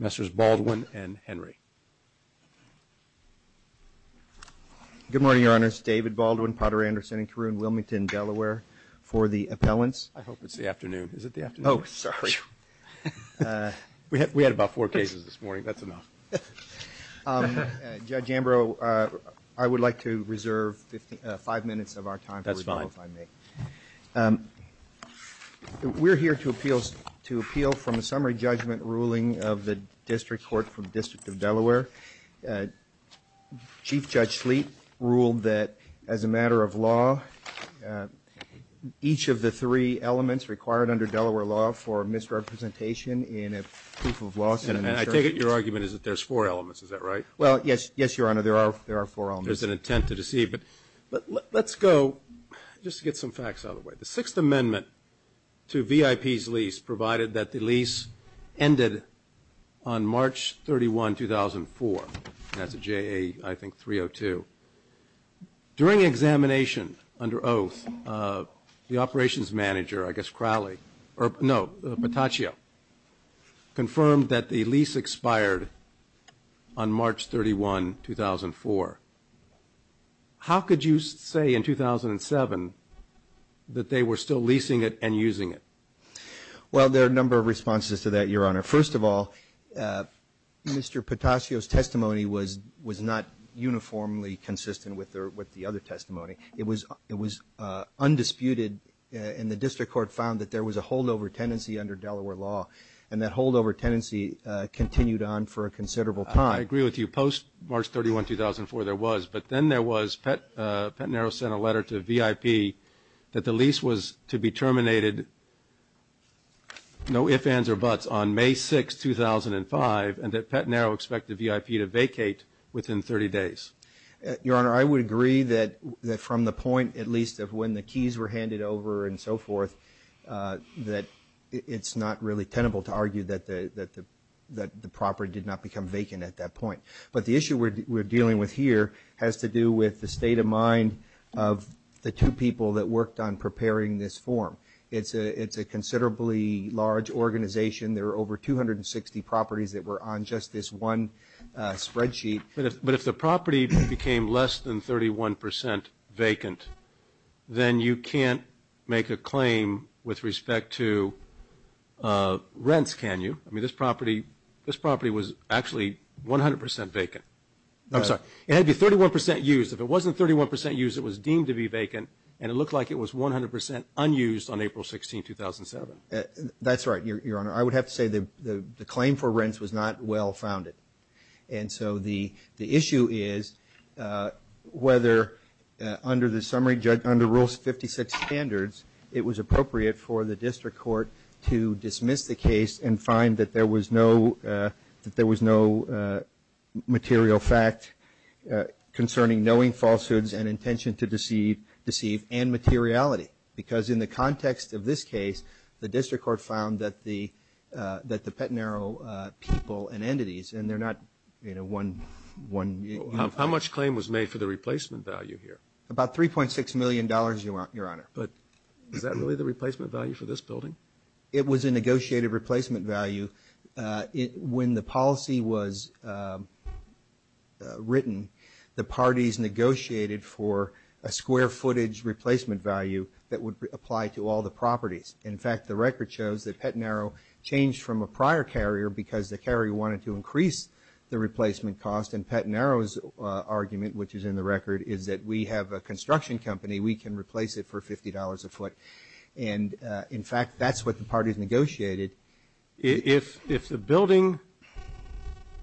Mr. Baldwin and Henry. Good morning, Your Honors. David Baldwin, Potter Anderson and Caroon Wilmington, Delaware. For the appellants. I hope it's the afternoon. Is it the afternoon? Oh, sorry. We had about four cases this morning. That's enough. Judge Ambrose, I would like to reserve five minutes of our time. That's fine. We're here to appeal to appeal from a summary judgment ruling of the district court from the District of Delaware. Chief Judge Sleet ruled that as a matter of law, each of the three elements required under Delaware law for misrepresentation in a proof of law. And I take it your argument is that there's four elements. Is that right? Well, yes, Your Honor, there are four elements. There's an intent to deceive. But let's go just to get some facts out of the way. The Sixth Amendment to VIP's lease provided that the lease ended on March 31, 2004. That's a JA, I think, 302. During examination under oath, the operations manager, I guess Crowley or no, Patacio, confirmed that the lease expired on March 31, 2004. How could you say in 2007 that they were still leasing it and using it? Well, there are a number of responses to that, Your Honor. First of all, Mr. Patacio's testimony was not uniformly consistent with the other testimony. It was undisputed, and the district court found that there was a holdover tendency under Delaware law, and that holdover tendency continued on for a considerable time. I agree with you. Post-March 31, 2004, there was. But then there was. Pat Naro sent a letter to VIP that the lease was to be terminated, no ifs, ands, or buts, on May 6, 2005, and that Pat Naro expected VIP to vacate within 30 days. Your Honor, I would agree that from the point, at least, of when the keys were handed over and so forth, that it's not really tenable to argue that the property did not become vacant at that point. But the issue we're dealing with here has to do with the state of mind of the two people that worked on preparing this form. It's a considerably large organization. There are over 260 properties that were on just this one spreadsheet. But if the property became less than 31 percent vacant, then you can't make a claim with respect to rents, can you? I mean, this property was actually 100 percent vacant. I'm sorry. It had to be 31 percent used. If it wasn't 31 percent used, it was deemed to be vacant, and it looked like it was 100 percent unused on April 16, 2007. That's right, Your Honor. I would have to say the claim for rents was not well-founded. And so the issue is whether, under Rule 56 standards, it was appropriate for the district court to dismiss the case and find that there was no material fact concerning knowing falsehoods and intention to deceive and materiality. Because in the context of this case, the district court found that the Pettenaro people and entities, and they're not, you know, one unit. How much claim was made for the replacement value here? About $3.6 million, Your Honor. But is that really the replacement value for this building? It was a negotiated replacement value. When the policy was written, the parties negotiated for a square footage replacement value that would apply to all the properties. In fact, the record shows that Pettenaro changed from a prior carrier because the carrier wanted to increase the replacement cost. And Pettenaro's argument, which is in the record, is that we have a construction company. We can replace it for $50 a foot. And, in fact, that's what the parties negotiated. If the building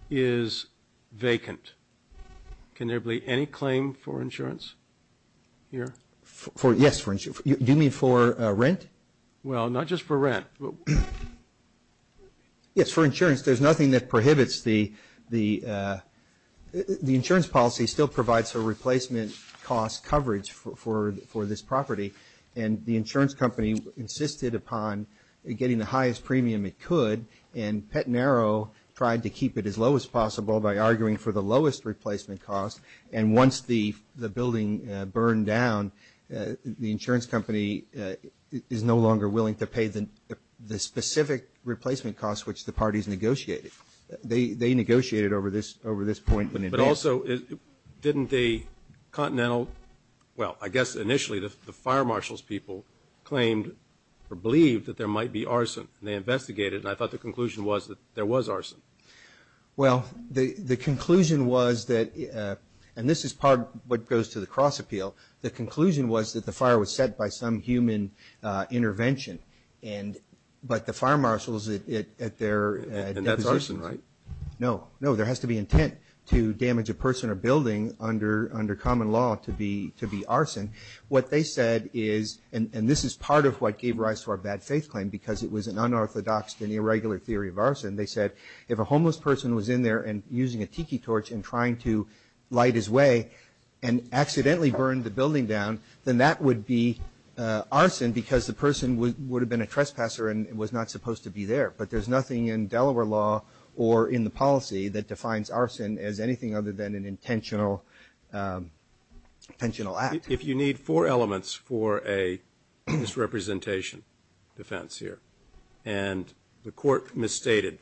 is vacant, can there be any claim for insurance here? Yes, for insurance. Do you mean for rent? Well, not just for rent. Yes, for insurance. There's nothing that prohibits the insurance policy still provides for replacement cost coverage for this property. And the insurance company insisted upon getting the highest premium it could, and Pettenaro tried to keep it as low as possible by arguing for the lowest replacement cost. And once the building burned down, the insurance company is no longer willing to pay the specific replacement cost, which the parties negotiated. They negotiated over this point. But also, didn't the continental – well, I guess initially the fire marshal's people claimed or believed that there might be arson, and they investigated. And I thought the conclusion was that there was arson. Well, the conclusion was that – and this is part of what goes to the cross-appeal. The conclusion was that the fire was set by some human intervention, but the fire marshals at their – And that's arson, right? No. No, there has to be intent to damage a person or building under common law to be arson. What they said is – and this is part of what gave rise to our bad faith claim because it was an unorthodox and irregular theory of arson. They said if a homeless person was in there and using a tiki torch and trying to light his way and accidentally burned the building down, then that would be arson because the person would have been a trespasser and was not supposed to be there. But there's nothing in Delaware law or in the policy that defines arson as anything other than an intentional act. If you need four elements for a misrepresentation defense here, and the court misstated,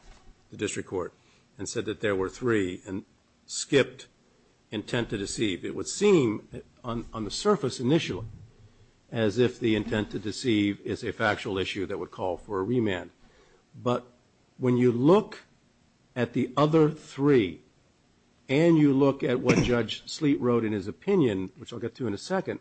the district court, and said that there were three and skipped intent to deceive, it would seem on the surface initially as if the intent to deceive is a factual issue that would call for a remand. But when you look at the other three and you look at what Judge Sleet wrote in his opinion, which I'll get to in a second,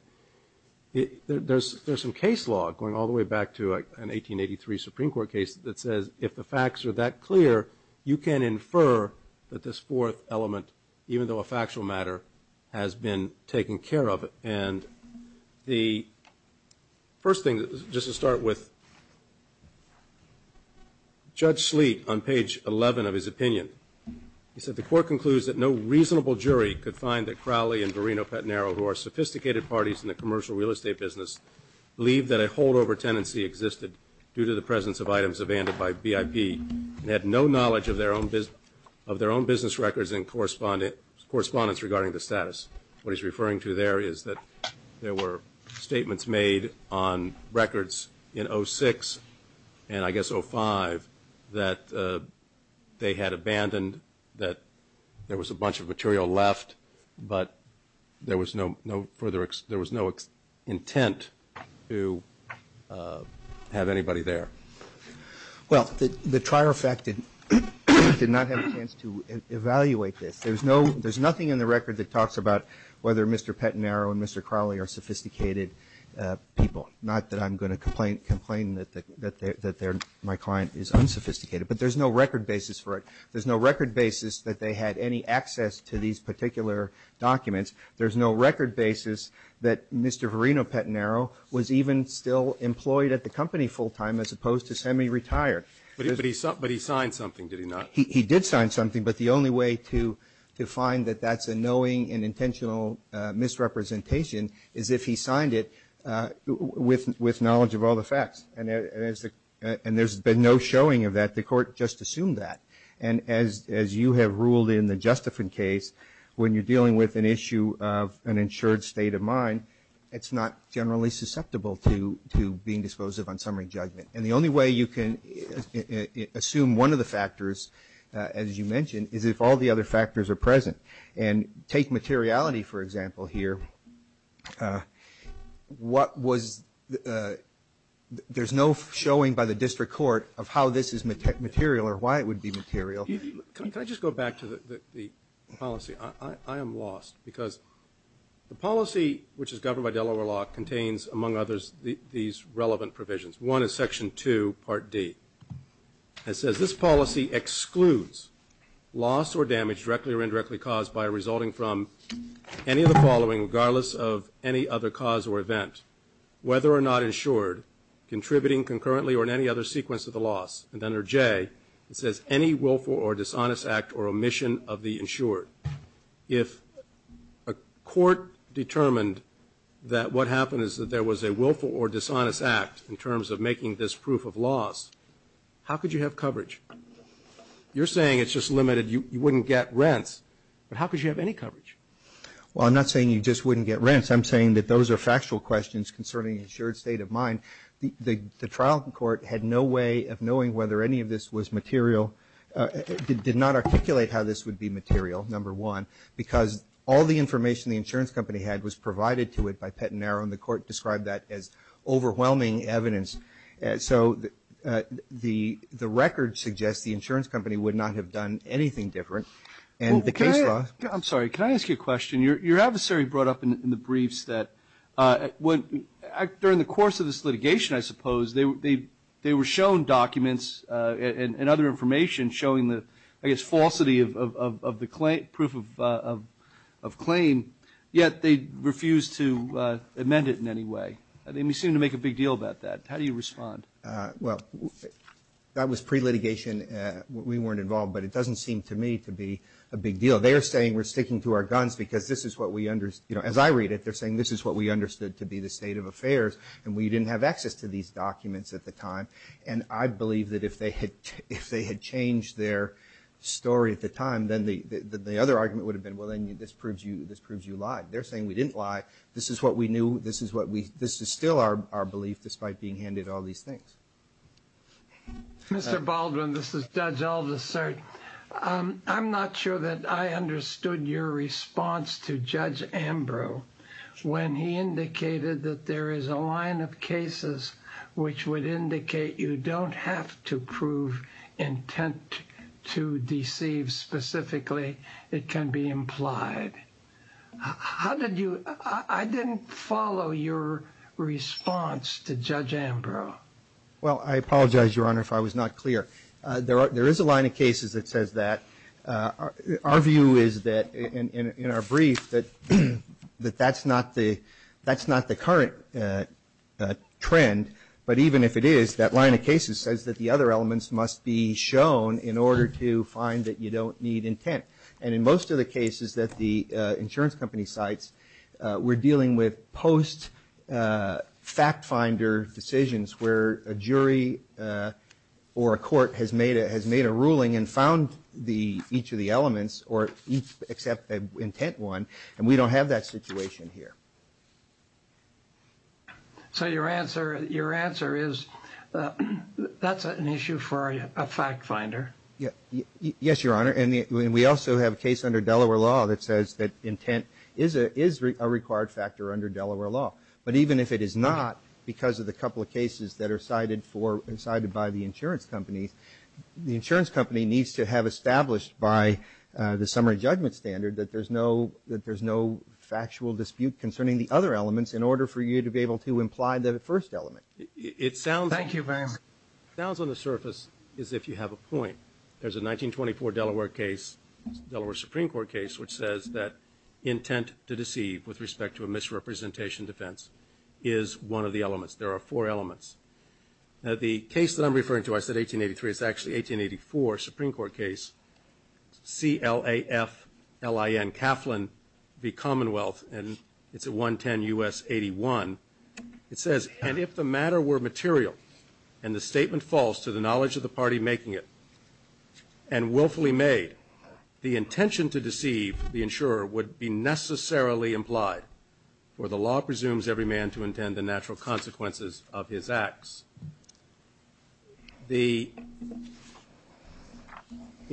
there's some case law going all the way back to an 1883 Supreme Court case that says if the facts are that clear, you can infer that this fourth element, even though a factual matter, has been taken care of. And the first thing, just to start with, Judge Sleet on page 11 of his opinion, he said the court concludes that no reasonable jury could find that Crowley and Verino-Petnero, who are sophisticated parties in the commercial real estate business, believe that a holdover tenancy existed due to the presence of items abandoned by BIP and had no knowledge of their own business records and correspondence regarding the status. What he's referring to there is that there were statements made on records in 06 and I guess 05 that they had abandoned, that there was a bunch of material left, but there was no intent to have anybody there. Well, the trier fact did not have a chance to evaluate this. There's nothing in the record that talks about whether Mr. Petnero and Mr. Crowley are sophisticated people, not that I'm going to complain that my client is unsophisticated, but there's no record basis for it. There's no record basis that they had any access to these particular documents. There's no record basis that Mr. Verino-Petnero was even still employed at the company full time as opposed to semi-retired. But he signed something, did he not? He did sign something, but the only way to find that that's a knowing and intentional misrepresentation is if he signed it with knowledge of all the facts. And there's been no showing of that. The Court just assumed that. And as you have ruled in the Justifen case, when you're dealing with an issue of an insured state of mind, it's not generally susceptible to being dispositive on summary judgment. And the only way you can assume one of the factors, as you mentioned, is if all the other factors are present. And take materiality, for example, here. There's no showing by the district court of how this is material or why it would be material. Can I just go back to the policy? I am lost because the policy which is governed by Delaware law contains, among others, these relevant provisions. One is Section 2, Part D. It says this policy excludes loss or damage directly or indirectly caused by resulting from any of the following, regardless of any other cause or event, whether or not insured, contributing concurrently or in any other sequence of the loss. And under J, it says any willful or dishonest act or omission of the insured. If a court determined that what happened is that there was a willful or dishonest act in terms of making this proof of loss, how could you have coverage? You're saying it's just limited, you wouldn't get rents. But how could you have any coverage? Well, I'm not saying you just wouldn't get rents. I'm saying that those are factual questions concerning the insured state of mind. The trial court had no way of knowing whether any of this was material, did not articulate how this would be material, number one, because all the information the insurance company had was provided to it by Pett and Narrow, and the court described that as overwhelming evidence. So the record suggests the insurance company would not have done anything different. And the case law – I'm sorry, can I ask you a question? Your adversary brought up in the briefs that during the course of this litigation, I suppose, they were shown documents and other information showing the, I guess, falsity of the proof of claim, yet they refused to amend it in any way. They seem to make a big deal about that. How do you respond? Well, that was pre-litigation. We weren't involved, but it doesn't seem to me to be a big deal. They're saying we're sticking to our guns because this is what we – as I read it, they're saying this is what we understood to be the state of affairs, and we didn't have access to these documents at the time. And I believe that if they had changed their story at the time, then the other argument would have been, well, then this proves you lied. They're saying we didn't lie. This is what we knew. This is what we – this is still our belief, despite being handed all these things. Mr. Baldwin, this is Judge Elvis, sir. I'm not sure that I understood your response to Judge Ambrose when he indicated that there is a line of cases which would indicate you don't have to prove intent to deceive. Specifically, it can be implied. How did you – I didn't follow your response to Judge Ambrose. Well, I apologize, Your Honor, if I was not clear. There is a line of cases that says that. Our view is that, in our brief, that that's not the current trend. But even if it is, that line of cases says that the other elements must be shown in order to find that you don't need intent. And in most of the cases that the insurance company cites, we're dealing with post-fact-finder decisions where a jury or a court has made a ruling and found each of the elements or except the intent one, and we don't have that situation here. So your answer is that's an issue for a fact-finder? Yes, Your Honor, and we also have a case under Delaware law that says that intent is a required factor under Delaware law. But even if it is not because of the couple of cases that are cited for – cited by the insurance companies, the insurance company needs to have established by the summary judgment standard that there's no factual dispute concerning the other elements in order for you to be able to imply the first element. Thank you very much. It sounds on the surface as if you have a point. There's a 1924 Delaware case, Delaware Supreme Court case, which says that intent to deceive with respect to a misrepresentation defense is one of the elements. There are four elements. Now, the case that I'm referring to, I said 1883, it's actually an 1884 Supreme Court case, C-L-A-F-L-I-N, Kaplan v. Commonwealth, and it's at 110 U.S. 81. It says, and if the matter were material and the statement falls to the knowledge of the party making it and willfully made, the intention to deceive the insurer would be necessarily implied, for the law presumes every man to intend the natural consequences of his acts. In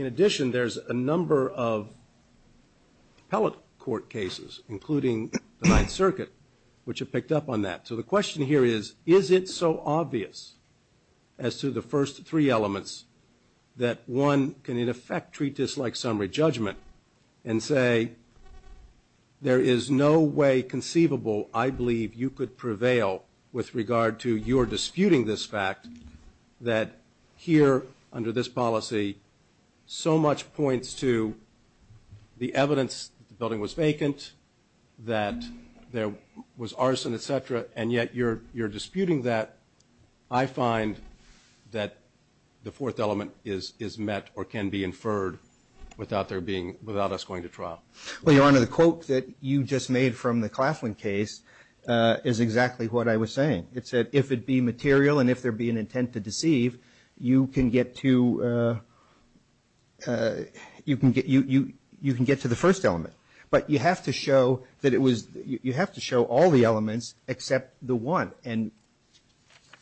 addition, there's a number of appellate court cases, including the Ninth Circuit, which have picked up on that. So the question here is, is it so obvious as to the first three elements that one can, in effect, treat this like summary judgment and say there is no way conceivable I believe you could prevail with regard to your disputing this fact that here under this policy so much points to the evidence that the building was vacant, that there was arson, et cetera, and yet you're disputing that. I find that the fourth element is met or can be inferred without us going to trial. Well, Your Honor, the quote that you just made from the Claflin case is exactly what I was saying. It said if it be material and if there be an intent to deceive, you can get to the first element. But you have to show all the elements except the one. And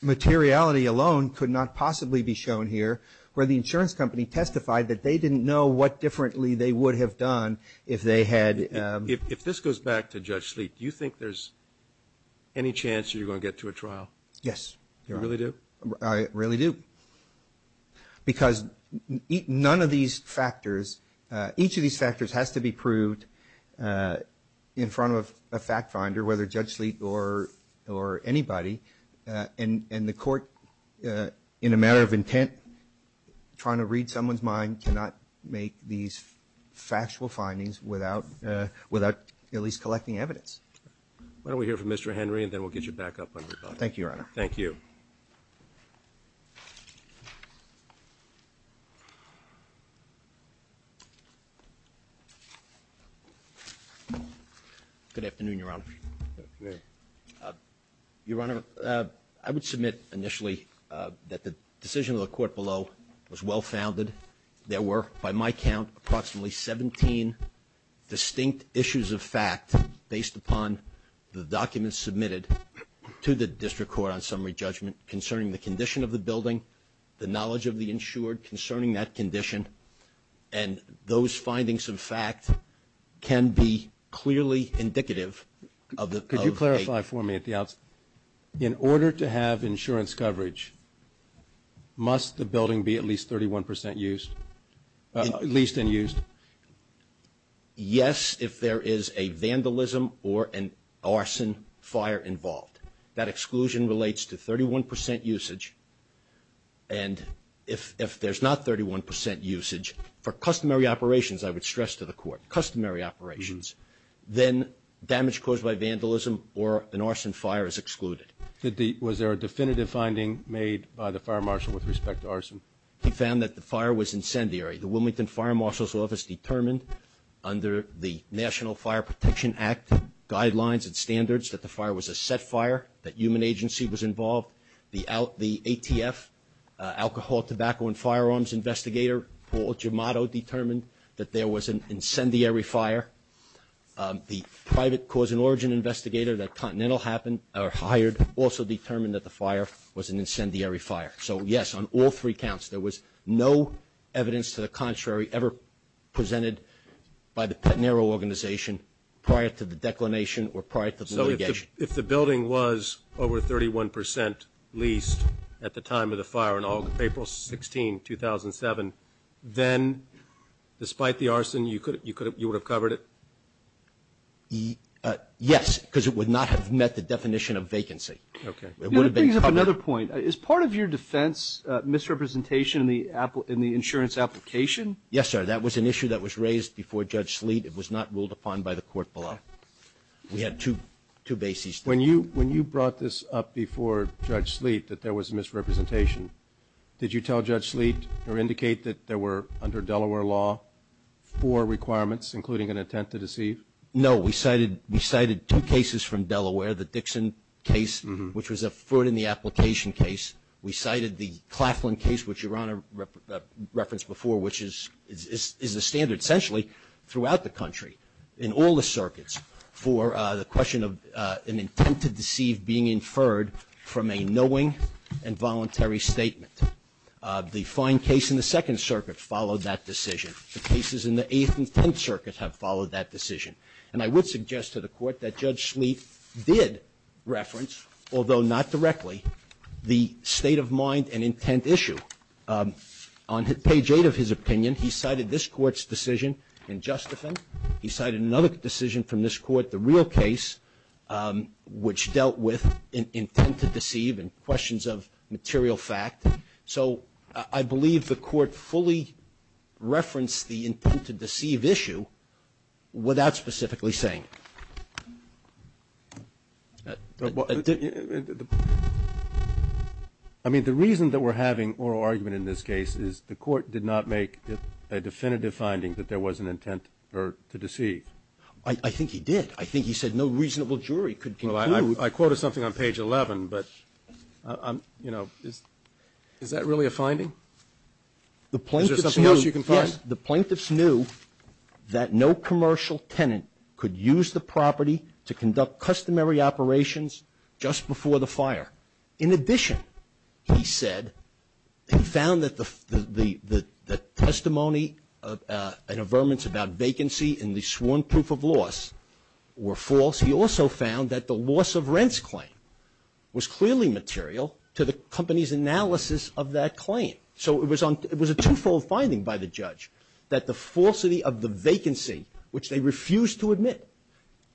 materiality alone could not possibly be shown here, where the insurance company testified that they didn't know what differently they would have done if they had. If this goes back to Judge Sleet, do you think there's any chance you're going to get to a trial? Yes, Your Honor. You really do? I really do. Because none of these factors, each of these factors has to be proved in front of a fact finder, whether Judge Sleet or anybody. And the court, in a matter of intent, trying to read someone's mind, cannot make these factual findings without at least collecting evidence. Why don't we hear from Mr. Henry, and then we'll get you back up on your bucket. Thank you, Your Honor. Thank you. Good afternoon, Your Honor. Good afternoon. Your Honor, I would submit initially that the decision of the court below was well founded. There were, by my count, approximately 17 distinct issues of fact, based upon the documents submitted to the district court on summary judgment concerning the condition of the building, the knowledge of the insured concerning that condition, and those findings of fact can be clearly indicative of a ---- Could you clarify for me at the outset, in order to have insurance coverage, must the building be at least 31 percent used, at least unused? Yes, if there is a vandalism or an arson fire involved. That exclusion relates to 31 percent usage, and if there's not 31 percent usage, for customary operations, I would stress to the court, customary operations, then damage caused by vandalism or an arson fire is excluded. Was there a definitive finding made by the fire marshal with respect to arson? He found that the fire was incendiary. The Wilmington Fire Marshal's Office determined under the National Fire Protection Act guidelines and standards that the fire was a set fire, that human agency was involved. The ATF, Alcohol, Tobacco, and Firearms Investigator, Paul Gemato, determined that there was an incendiary fire. The private cause and origin investigator that Continental hired also determined that the fire was an incendiary fire. So, yes, on all three counts, there was no evidence to the contrary ever presented by the Petner Organization prior to the declination or prior to the litigation. So if the building was over 31 percent leased at the time of the fire on April 16, 2007, then despite the arson, you would have covered it? Yes, because it would not have met the definition of vacancy. Okay. That brings up another point. Is part of your defense misrepresentation in the insurance application? Yes, sir. That was an issue that was raised before Judge Sleet. It was not ruled upon by the court below. We had two bases. When you brought this up before Judge Sleet that there was misrepresentation, did you tell Judge Sleet or indicate that there were, under Delaware law, four requirements, including an intent to deceive? No. We cited two cases from Delaware, the Dixon case, which was a foot in the application case. We cited the Claflin case, which Your Honor referenced before, which is the standard essentially throughout the country in all the circuits for the question of an intent to deceive being inferred from a knowing and voluntary statement. The fine case in the Second Circuit followed that decision. The cases in the Eighth and Tenth Circuit have followed that decision. And I would suggest to the court that Judge Sleet did reference, although not directly, the state of mind and intent issue. On page 8 of his opinion, he cited this court's decision in just offense. He cited another decision from this court, the real case, which dealt with intent to deceive and questions of material fact. So I believe the court fully referenced the intent to deceive issue without specifically saying. I mean, the reason that we're having oral argument in this case is the court did not make a definitive finding that there was an intent to deceive. I think he did. I think he said no reasonable jury could conclude. Well, I quoted something on page 11, but, you know, is that really a finding? Is there something else you can find? Yes. The plaintiffs knew that no commercial tenant could use the property to conduct customary operations just before the fire. In addition, he said, he found that the testimony and averments about vacancy and the sworn proof of loss were false. He also found that the loss of rents claim was clearly material to the company's analysis of that claim. So it was a twofold finding by the judge, that the falsity of the vacancy, which they refused to admit,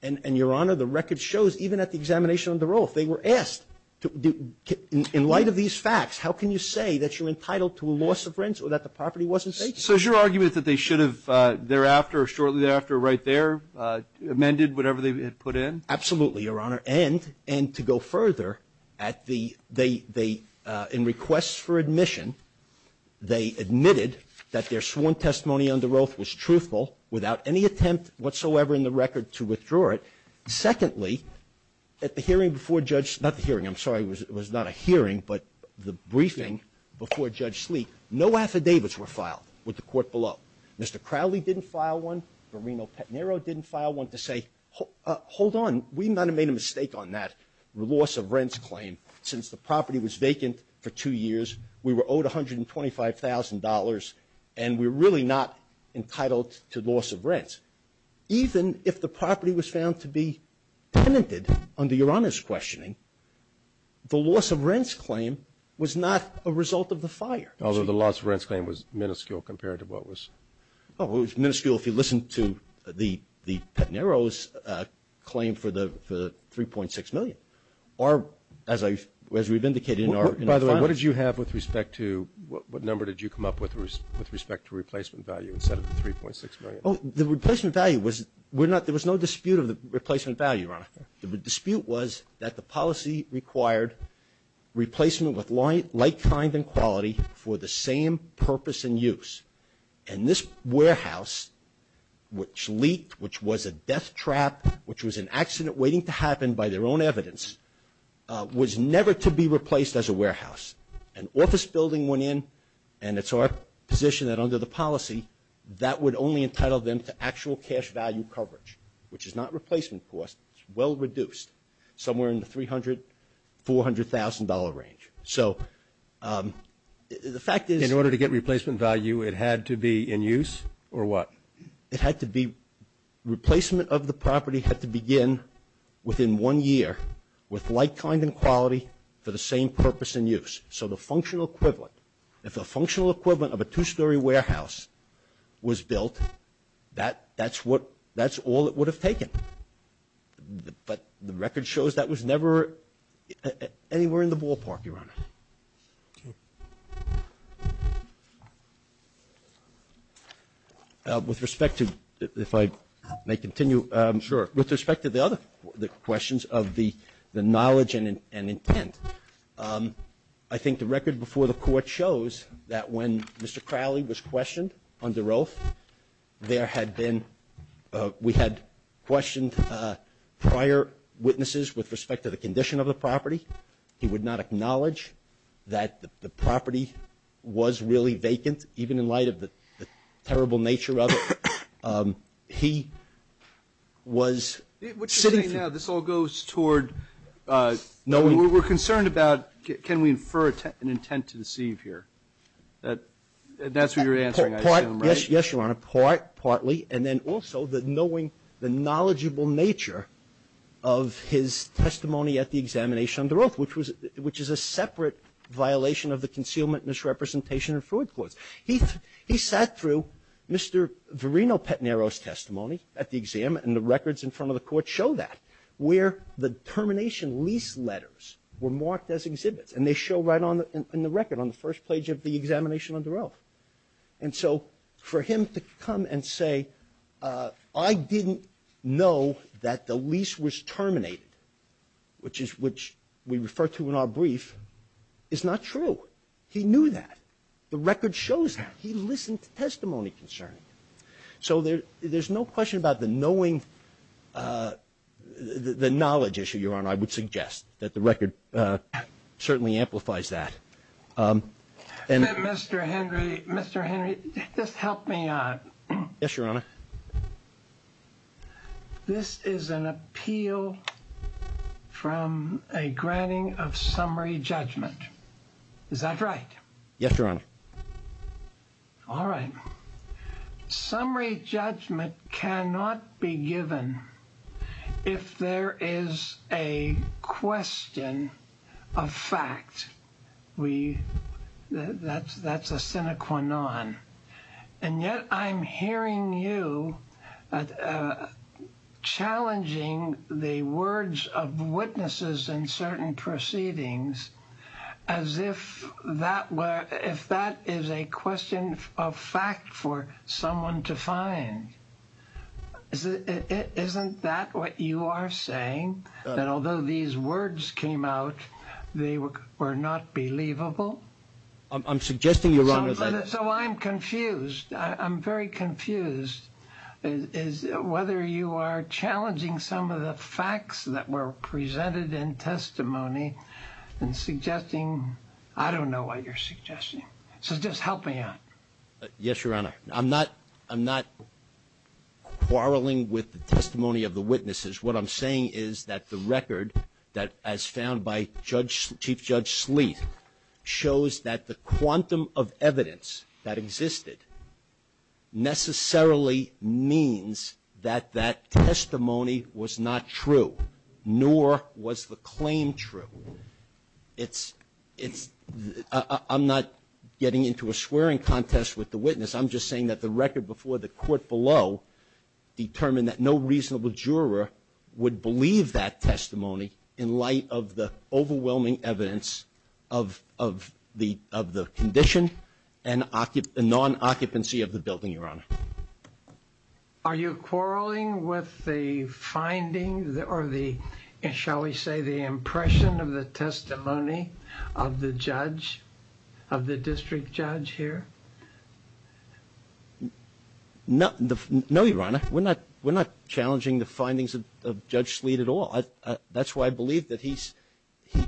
and, Your Honor, the record shows even at the examination of the role, if they were asked, in light of these facts, how can you say that you're entitled to a loss of rents or that the property wasn't vacant? So is your argument that they should have thereafter or shortly thereafter or right there amended whatever they had put in? Absolutely, Your Honor. And to go further, at the they in requests for admission, they admitted that their sworn testimony under Roeth was truthful without any attempt whatsoever in the record to withdraw it. Secondly, at the hearing before Judge Slee, not the hearing, I'm sorry, it was not a hearing, but the briefing before Judge Slee, no affidavits were filed with the court Mr. Crowley didn't file one. Barrino Petnero didn't file one to say, hold on, we might have made a mistake on that loss of rents claim since the property was vacant for two years. We were owed $125,000 and we're really not entitled to loss of rents. Even if the property was found to be tenanted under Your Honor's questioning, the loss of rents claim was not a result of the fire. Although the loss of rents claim was minuscule compared to what was? It was minuscule if you listen to the Petnero's claim for the $3.6 million. As we've indicated in our filing. By the way, what did you have with respect to, what number did you come up with with respect to replacement value instead of the $3.6 million? The replacement value was, there was no dispute of the replacement value, Your Honor. The dispute was that the policy required replacement with like kind and quality for the same purpose and use. And this warehouse, which leaked, which was a death trap, which was an accident waiting to happen by their own evidence, was never to be replaced as a warehouse. An office building went in and it's our position that under the policy, that would only entitle them to actual cash value coverage, which is not replacement cost, it's well reduced. Somewhere in the $300,000, $400,000 range. So the fact is. In order to get replacement value, it had to be in use or what? It had to be, replacement of the property had to begin within one year with like kind and quality for the same purpose and use. So the functional equivalent, if a functional equivalent of a two-story warehouse was built, that's what, that's all it would have taken. But the record shows that was never anywhere in the ballpark, Your Honor. With respect to, if I may continue. Sure. With respect to the other questions of the knowledge and intent, I think the record before the court shows that when Mr. Crowley was questioned on DeRolf, there had been, we had questioned prior witnesses with respect to the condition of the property. He would not acknowledge that the property was really vacant, even in light of the terrible nature of it. He was. What you're saying now, this all goes toward, we're concerned about, can we infer an intent to deceive here? That's what you're answering, I assume, right? Yes, Your Honor. Partly. And then also the knowing, the knowledgeable nature of his testimony at the examination on DeRolf, which was, which is a separate violation of the concealment misrepresentation and fruit clause. He sat through Mr. Verino-Petnero's testimony at the exam and the records in front of the court show that, where the termination lease letters were marked as exhibits and they show right on the record on the first page of the examination on DeRolf. And so for him to come and say, I didn't know that the lease was terminated, which we refer to in our brief, is not true. He knew that. The record shows that. He listened to testimony concerning it. I would suggest that the record certainly amplifies that. Mr. Henry, Mr. Henry, just help me out. Yes, Your Honor. This is an appeal from a granting of summary judgment. Is that right? Yes, Your Honor. All right. Summary judgment cannot be given if there is a question of fact. That's a sine qua non. And yet I'm hearing you challenging the words of witnesses in certain proceedings as if that is a question of fact for someone to find. Isn't that what you are saying, that although these words came out, they were not believable? I'm suggesting you're wrong with that. So I'm confused. I'm very confused whether you are challenging some of the facts that were presented in testimony and suggesting I don't know what you're suggesting. So just help me out. Yes, Your Honor. I'm not quarreling with the testimony of the witnesses. What I'm saying is that the record that, as found by Chief Judge Sleeth, shows that the quantum of evidence that existed necessarily means that that testimony was not true, nor was the claim true. I'm not getting into a swearing contest with the witness. I'm just saying that the record before the court below determined that no reasonable juror would believe that testimony in light of the overwhelming evidence of the condition and non-occupancy of the building, Your Honor. Are you quarreling with the findings or the, shall we say, the impression of the testimony of the judge, of the district judge here? No, Your Honor. We're not challenging the findings of Judge Sleeth at all. That's why I believe that he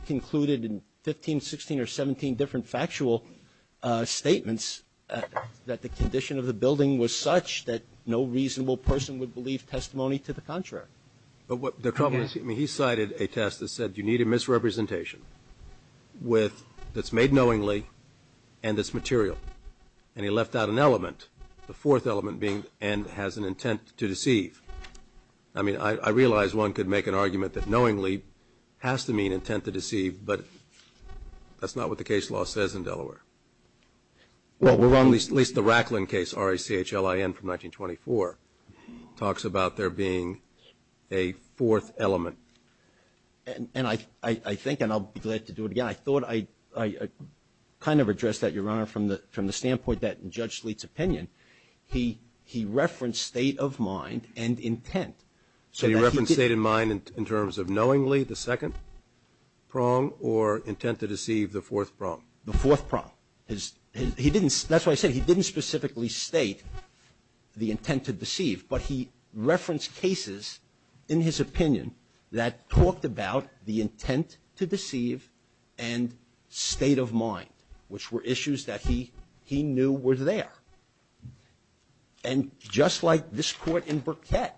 concluded in 15, 16 or 17 different factual statements that the condition of the building was such that no reasonable person would believe testimony to the contrary. But what the problem is, he cited a test that said you need a misrepresentation that's made knowingly and that's material. And he left out an element, the fourth element being and has an intent to deceive. I mean, I realize one could make an argument that knowingly has to mean intent to deceive, but that's not what the case law says in Delaware. Well, we're wrong, at least the Racklin case, R-A-C-H-L-I-N from 1924, talks about there being a fourth element. And I think, and I'll be glad to do it again, but I thought I kind of addressed that, Your Honor, from the standpoint that in Judge Sleeth's opinion he referenced state of mind and intent. So he referenced state of mind in terms of knowingly, the second prong, or intent to deceive, the fourth prong? The fourth prong. That's why I said he didn't specifically state the intent to deceive, but he referenced cases in his opinion that talked about the intent to deceive and state of mind, which were issues that he knew were there. And just like this court in Burkett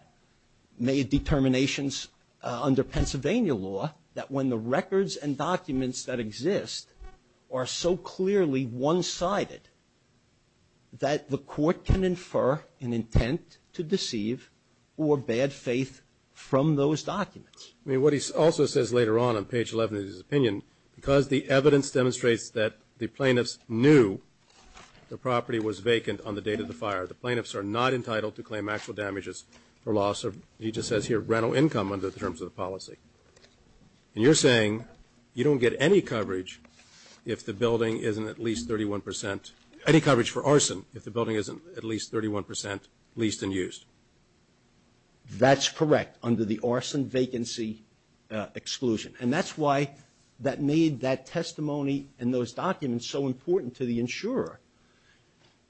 made determinations under Pennsylvania law that when the records and documents that exist are so clearly one-sided that the court can infer an intent to deceive or bad faith from those documents. I mean, what he also says later on, on page 11 of his opinion, because the evidence demonstrates that the plaintiffs knew the property was vacant on the date of the fire, the plaintiffs are not entitled to claim actual damages or loss of, he just says here, rental income under the terms of the policy. And you're saying you don't get any coverage if the building isn't at least 31 percent leased and used? That's correct, under the arson vacancy exclusion. And that's why that made that testimony and those documents so important to the insurer,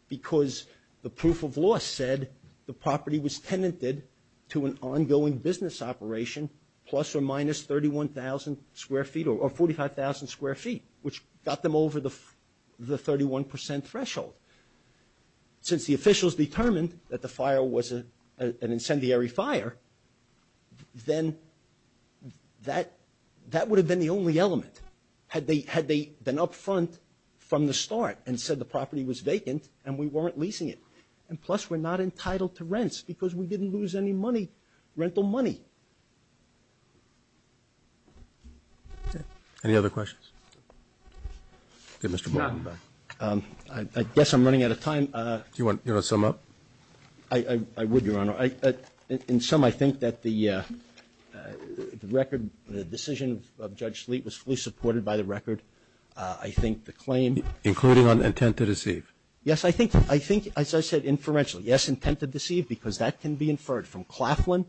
because the proof of loss said the property was tenanted to an ongoing business operation plus or minus 31,000 square feet or 45,000 square feet, which got them over the 31 percent threshold. Since the officials determined that the fire was an incendiary fire, then that would have been the only element, had they been up front from the start and said the property was vacant and we weren't leasing it. And plus we're not entitled to rents because we didn't lose any money, rental money. Any other questions? I guess I'm running out of time. Do you want to sum up? I would, Your Honor. In sum, I think that the record, the decision of Judge Sleet was fully supported by the record. I think the claim. Including on intent to deceive? Yes, I think, as I said, inferentially, yes, intent to deceive, because that can be inferred from Claflin,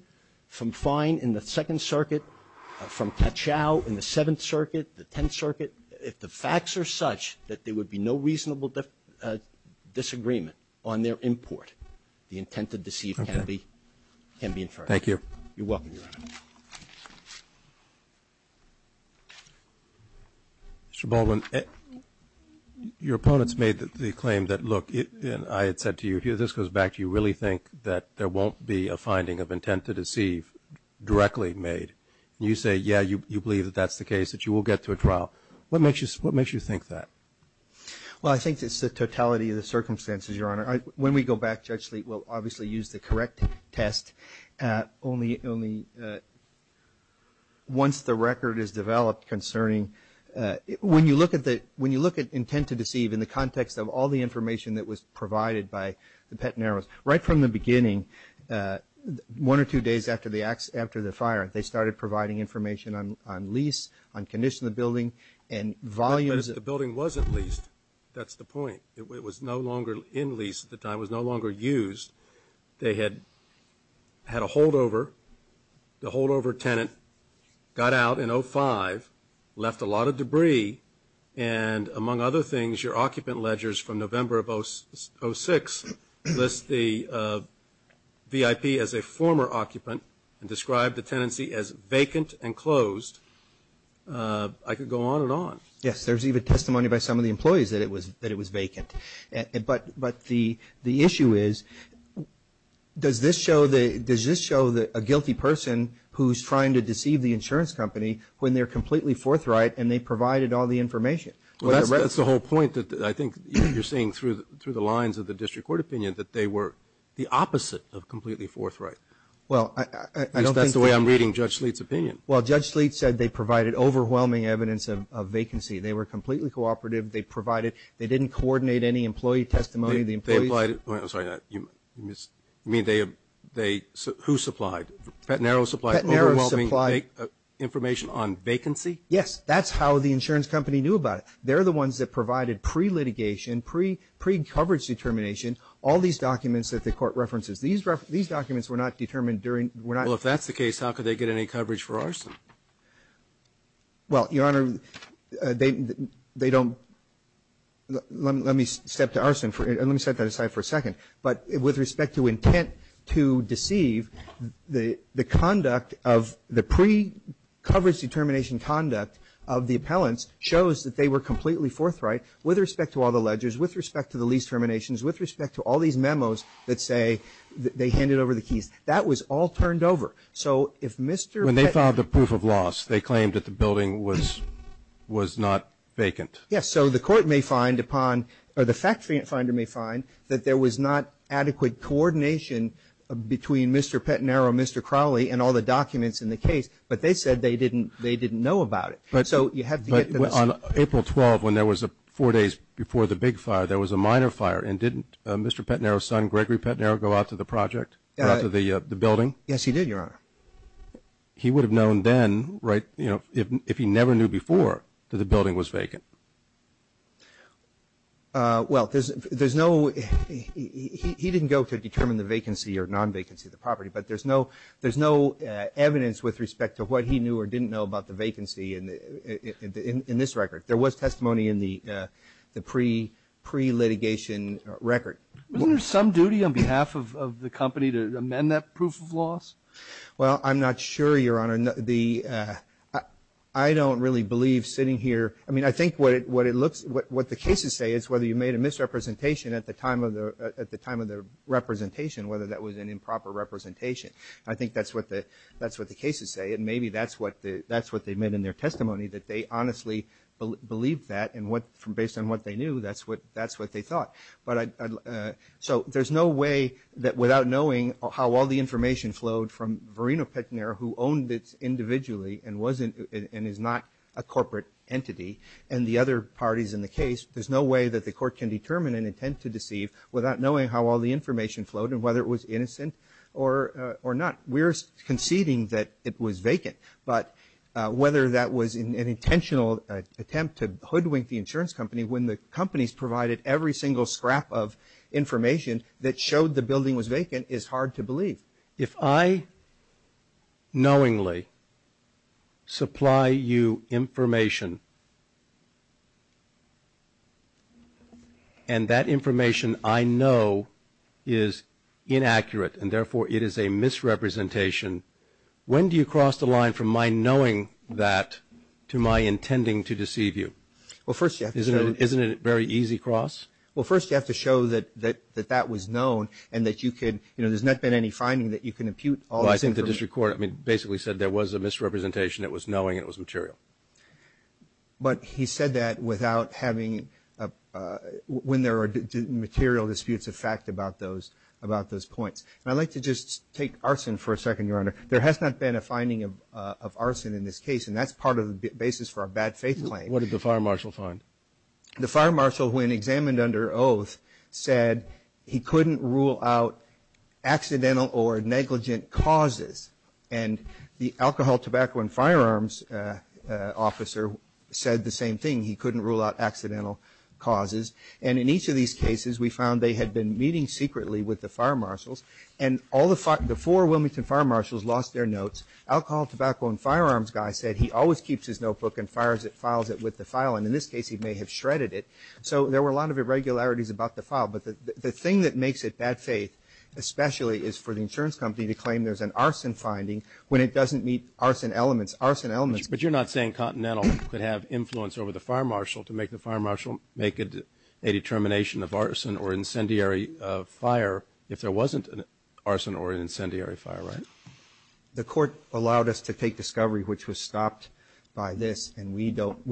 from Fine in the Second Circuit, from Cachow in the Seventh Circuit, the Tenth Circuit. If the facts are such that there would be no reasonable disagreement on their import, the intent to deceive can be inferred. Thank you. You're welcome, Your Honor. Mr. Baldwin, your opponents made the claim that, look, and I had said to you, if this goes back, do you really think that there won't be a finding of intent to deceive directly made? And you say, yeah, you believe that that's the case, that you will get to a trial. What makes you think that? Well, I think it's the totality of the circumstances, Your Honor. When we go back, Judge Sleet will obviously use the correct test, only once the record is developed concerning when you look at intent to deceive in the context of all the information that was provided by the Petten Arrows. Right from the beginning, one or two days after the fire, they started providing information on lease, on condition of the building, and volumes of the building. But if the building wasn't leased, that's the point. It was no longer in lease at the time, it was no longer used. They had a holdover. The holdover tenant got out in 2005, left a lot of debris, and among other things, your occupant ledgers from November of 2006 list the VIP as a former occupant and describe the tenancy as vacant and closed. I could go on and on. Yes, there's even testimony by some of the employees that it was vacant. But the issue is, does this show a guilty person who's trying to deceive the insurance company when they're completely forthright and they provided all the information? Well, that's the whole point that I think you're seeing through the lines of the district court opinion, that they were the opposite of completely forthright. Well, I don't think that's the way I'm reading Judge Sleet's opinion. Well, Judge Sleet said they provided overwhelming evidence of vacancy. They were completely cooperative. They didn't coordinate any employee testimony. I'm sorry. You mean they, who supplied? Petnaro supplied overwhelming information on vacancy? Yes, that's how the insurance company knew about it. They're the ones that provided pre-litigation, pre-coverage determination, all these documents that the court references. These documents were not determined during, were not. Well, if that's the case, how could they get any coverage for arson? Well, Your Honor, they don't, let me step to arson, let me set that aside for a second. But with respect to intent to deceive, the conduct of the pre-coverage determination conduct of the appellants shows that they were completely forthright with respect to all the ledgers, with respect to the lease terminations, with respect to all these memos that say they handed over the keys. That was all turned over. So if Mr. Petnaro When they filed a proof of loss, they claimed that the building was not vacant. Yes. So the court may find upon, or the fact finder may find that there was not adequate coordination between Mr. Petnaro and Mr. Crowley and all the documents in the case. But they said they didn't know about it. But on April 12th, when there was four days before the big fire, there was a minor fire. And didn't Mr. Petnaro's son, Gregory Petnaro, go out to the project, go out to the building? Yes, he did, Your Honor. He would have known then, right, you know, if he never knew before that the building was vacant. Well, there's no, he didn't go to determine the vacancy or non-vacancy of the property. But there's no evidence with respect to what he knew or didn't know about the vacancy in this record. There was testimony in the pre-litigation record. Wasn't there some duty on behalf of the company to amend that proof of loss? Well, I'm not sure, Your Honor. I don't really believe sitting here, I mean, I think what it looks, what the cases say is whether you made a misrepresentation at the time of the representation, whether that was an improper representation. I think that's what the cases say. And maybe that's what they meant in their testimony, that they honestly believed that. And based on what they knew, that's what they thought. So there's no way that without knowing how all the information flowed from Verino Petnaro, who owned it individually and is not a corporate entity, and the other parties in the case, there's no way that the Court can determine an intent to deceive without knowing how all the information flowed and whether it was innocent or not. We're conceding that it was vacant, but whether that was an intentional attempt to hoodwink the insurance company when the companies provided every single scrap of information that showed the building was vacant is hard to believe. If I knowingly supply you information and that information I know is inaccurate and therefore it is a misrepresentation, when do you cross the line from my knowing that to my intending to deceive you? Isn't it a very easy cross? Well, first you have to show that that was known and that you can, you know, there's not been any finding that you can impute all this information. Well, I think the district court basically said there was a misrepresentation, it was knowing, it was material. But he said that without having, when there are material disputes of fact about those points, and I'd like to just take arson for a second, Your Honor. There has not been a finding of arson in this case, and that's part of the basis for our bad faith claim. What did the fire marshal find? The fire marshal, when examined under oath, said he couldn't rule out accidental or negligent causes. And the alcohol, tobacco, and firearms officer said the same thing. He couldn't rule out accidental causes. And in each of these cases we found they had been meeting secretly with the fire marshals, and all the four Wilmington fire marshals lost their notes. Alcohol, tobacco, and firearms guy said he always keeps his notebook and fires it, files it with the file, and in this case he may have shredded it. So there were a lot of irregularities about the file. But the thing that makes it bad faith, especially is for the insurance company to claim there's an arson finding when it doesn't meet arson elements, arson elements. But you're not saying Continental could have influence over the fire marshal to make the fire marshal make a determination of arson or incendiary fire if there wasn't an arson or incendiary fire, right? The court allowed us to take discovery, which was stopped by this, and we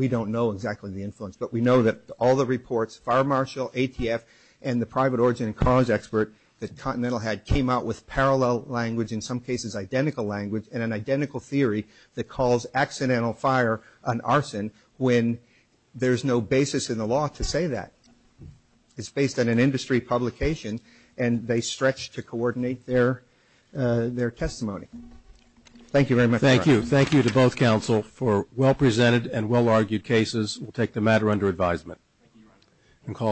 don't know exactly the influence. But we know that all the reports, fire marshal, ATF, and the private origin and cause expert that Continental had came out with parallel language, in some cases identical language, and an identical theory that calls accidental fire an arson when there's no basis in the law to say that. It's based on an industry publication, and they stretch to coordinate their testimony. Thank you very much. Thank you. Thank you to both counsel for well-presented and well-argued cases. We'll take the matter under advisement.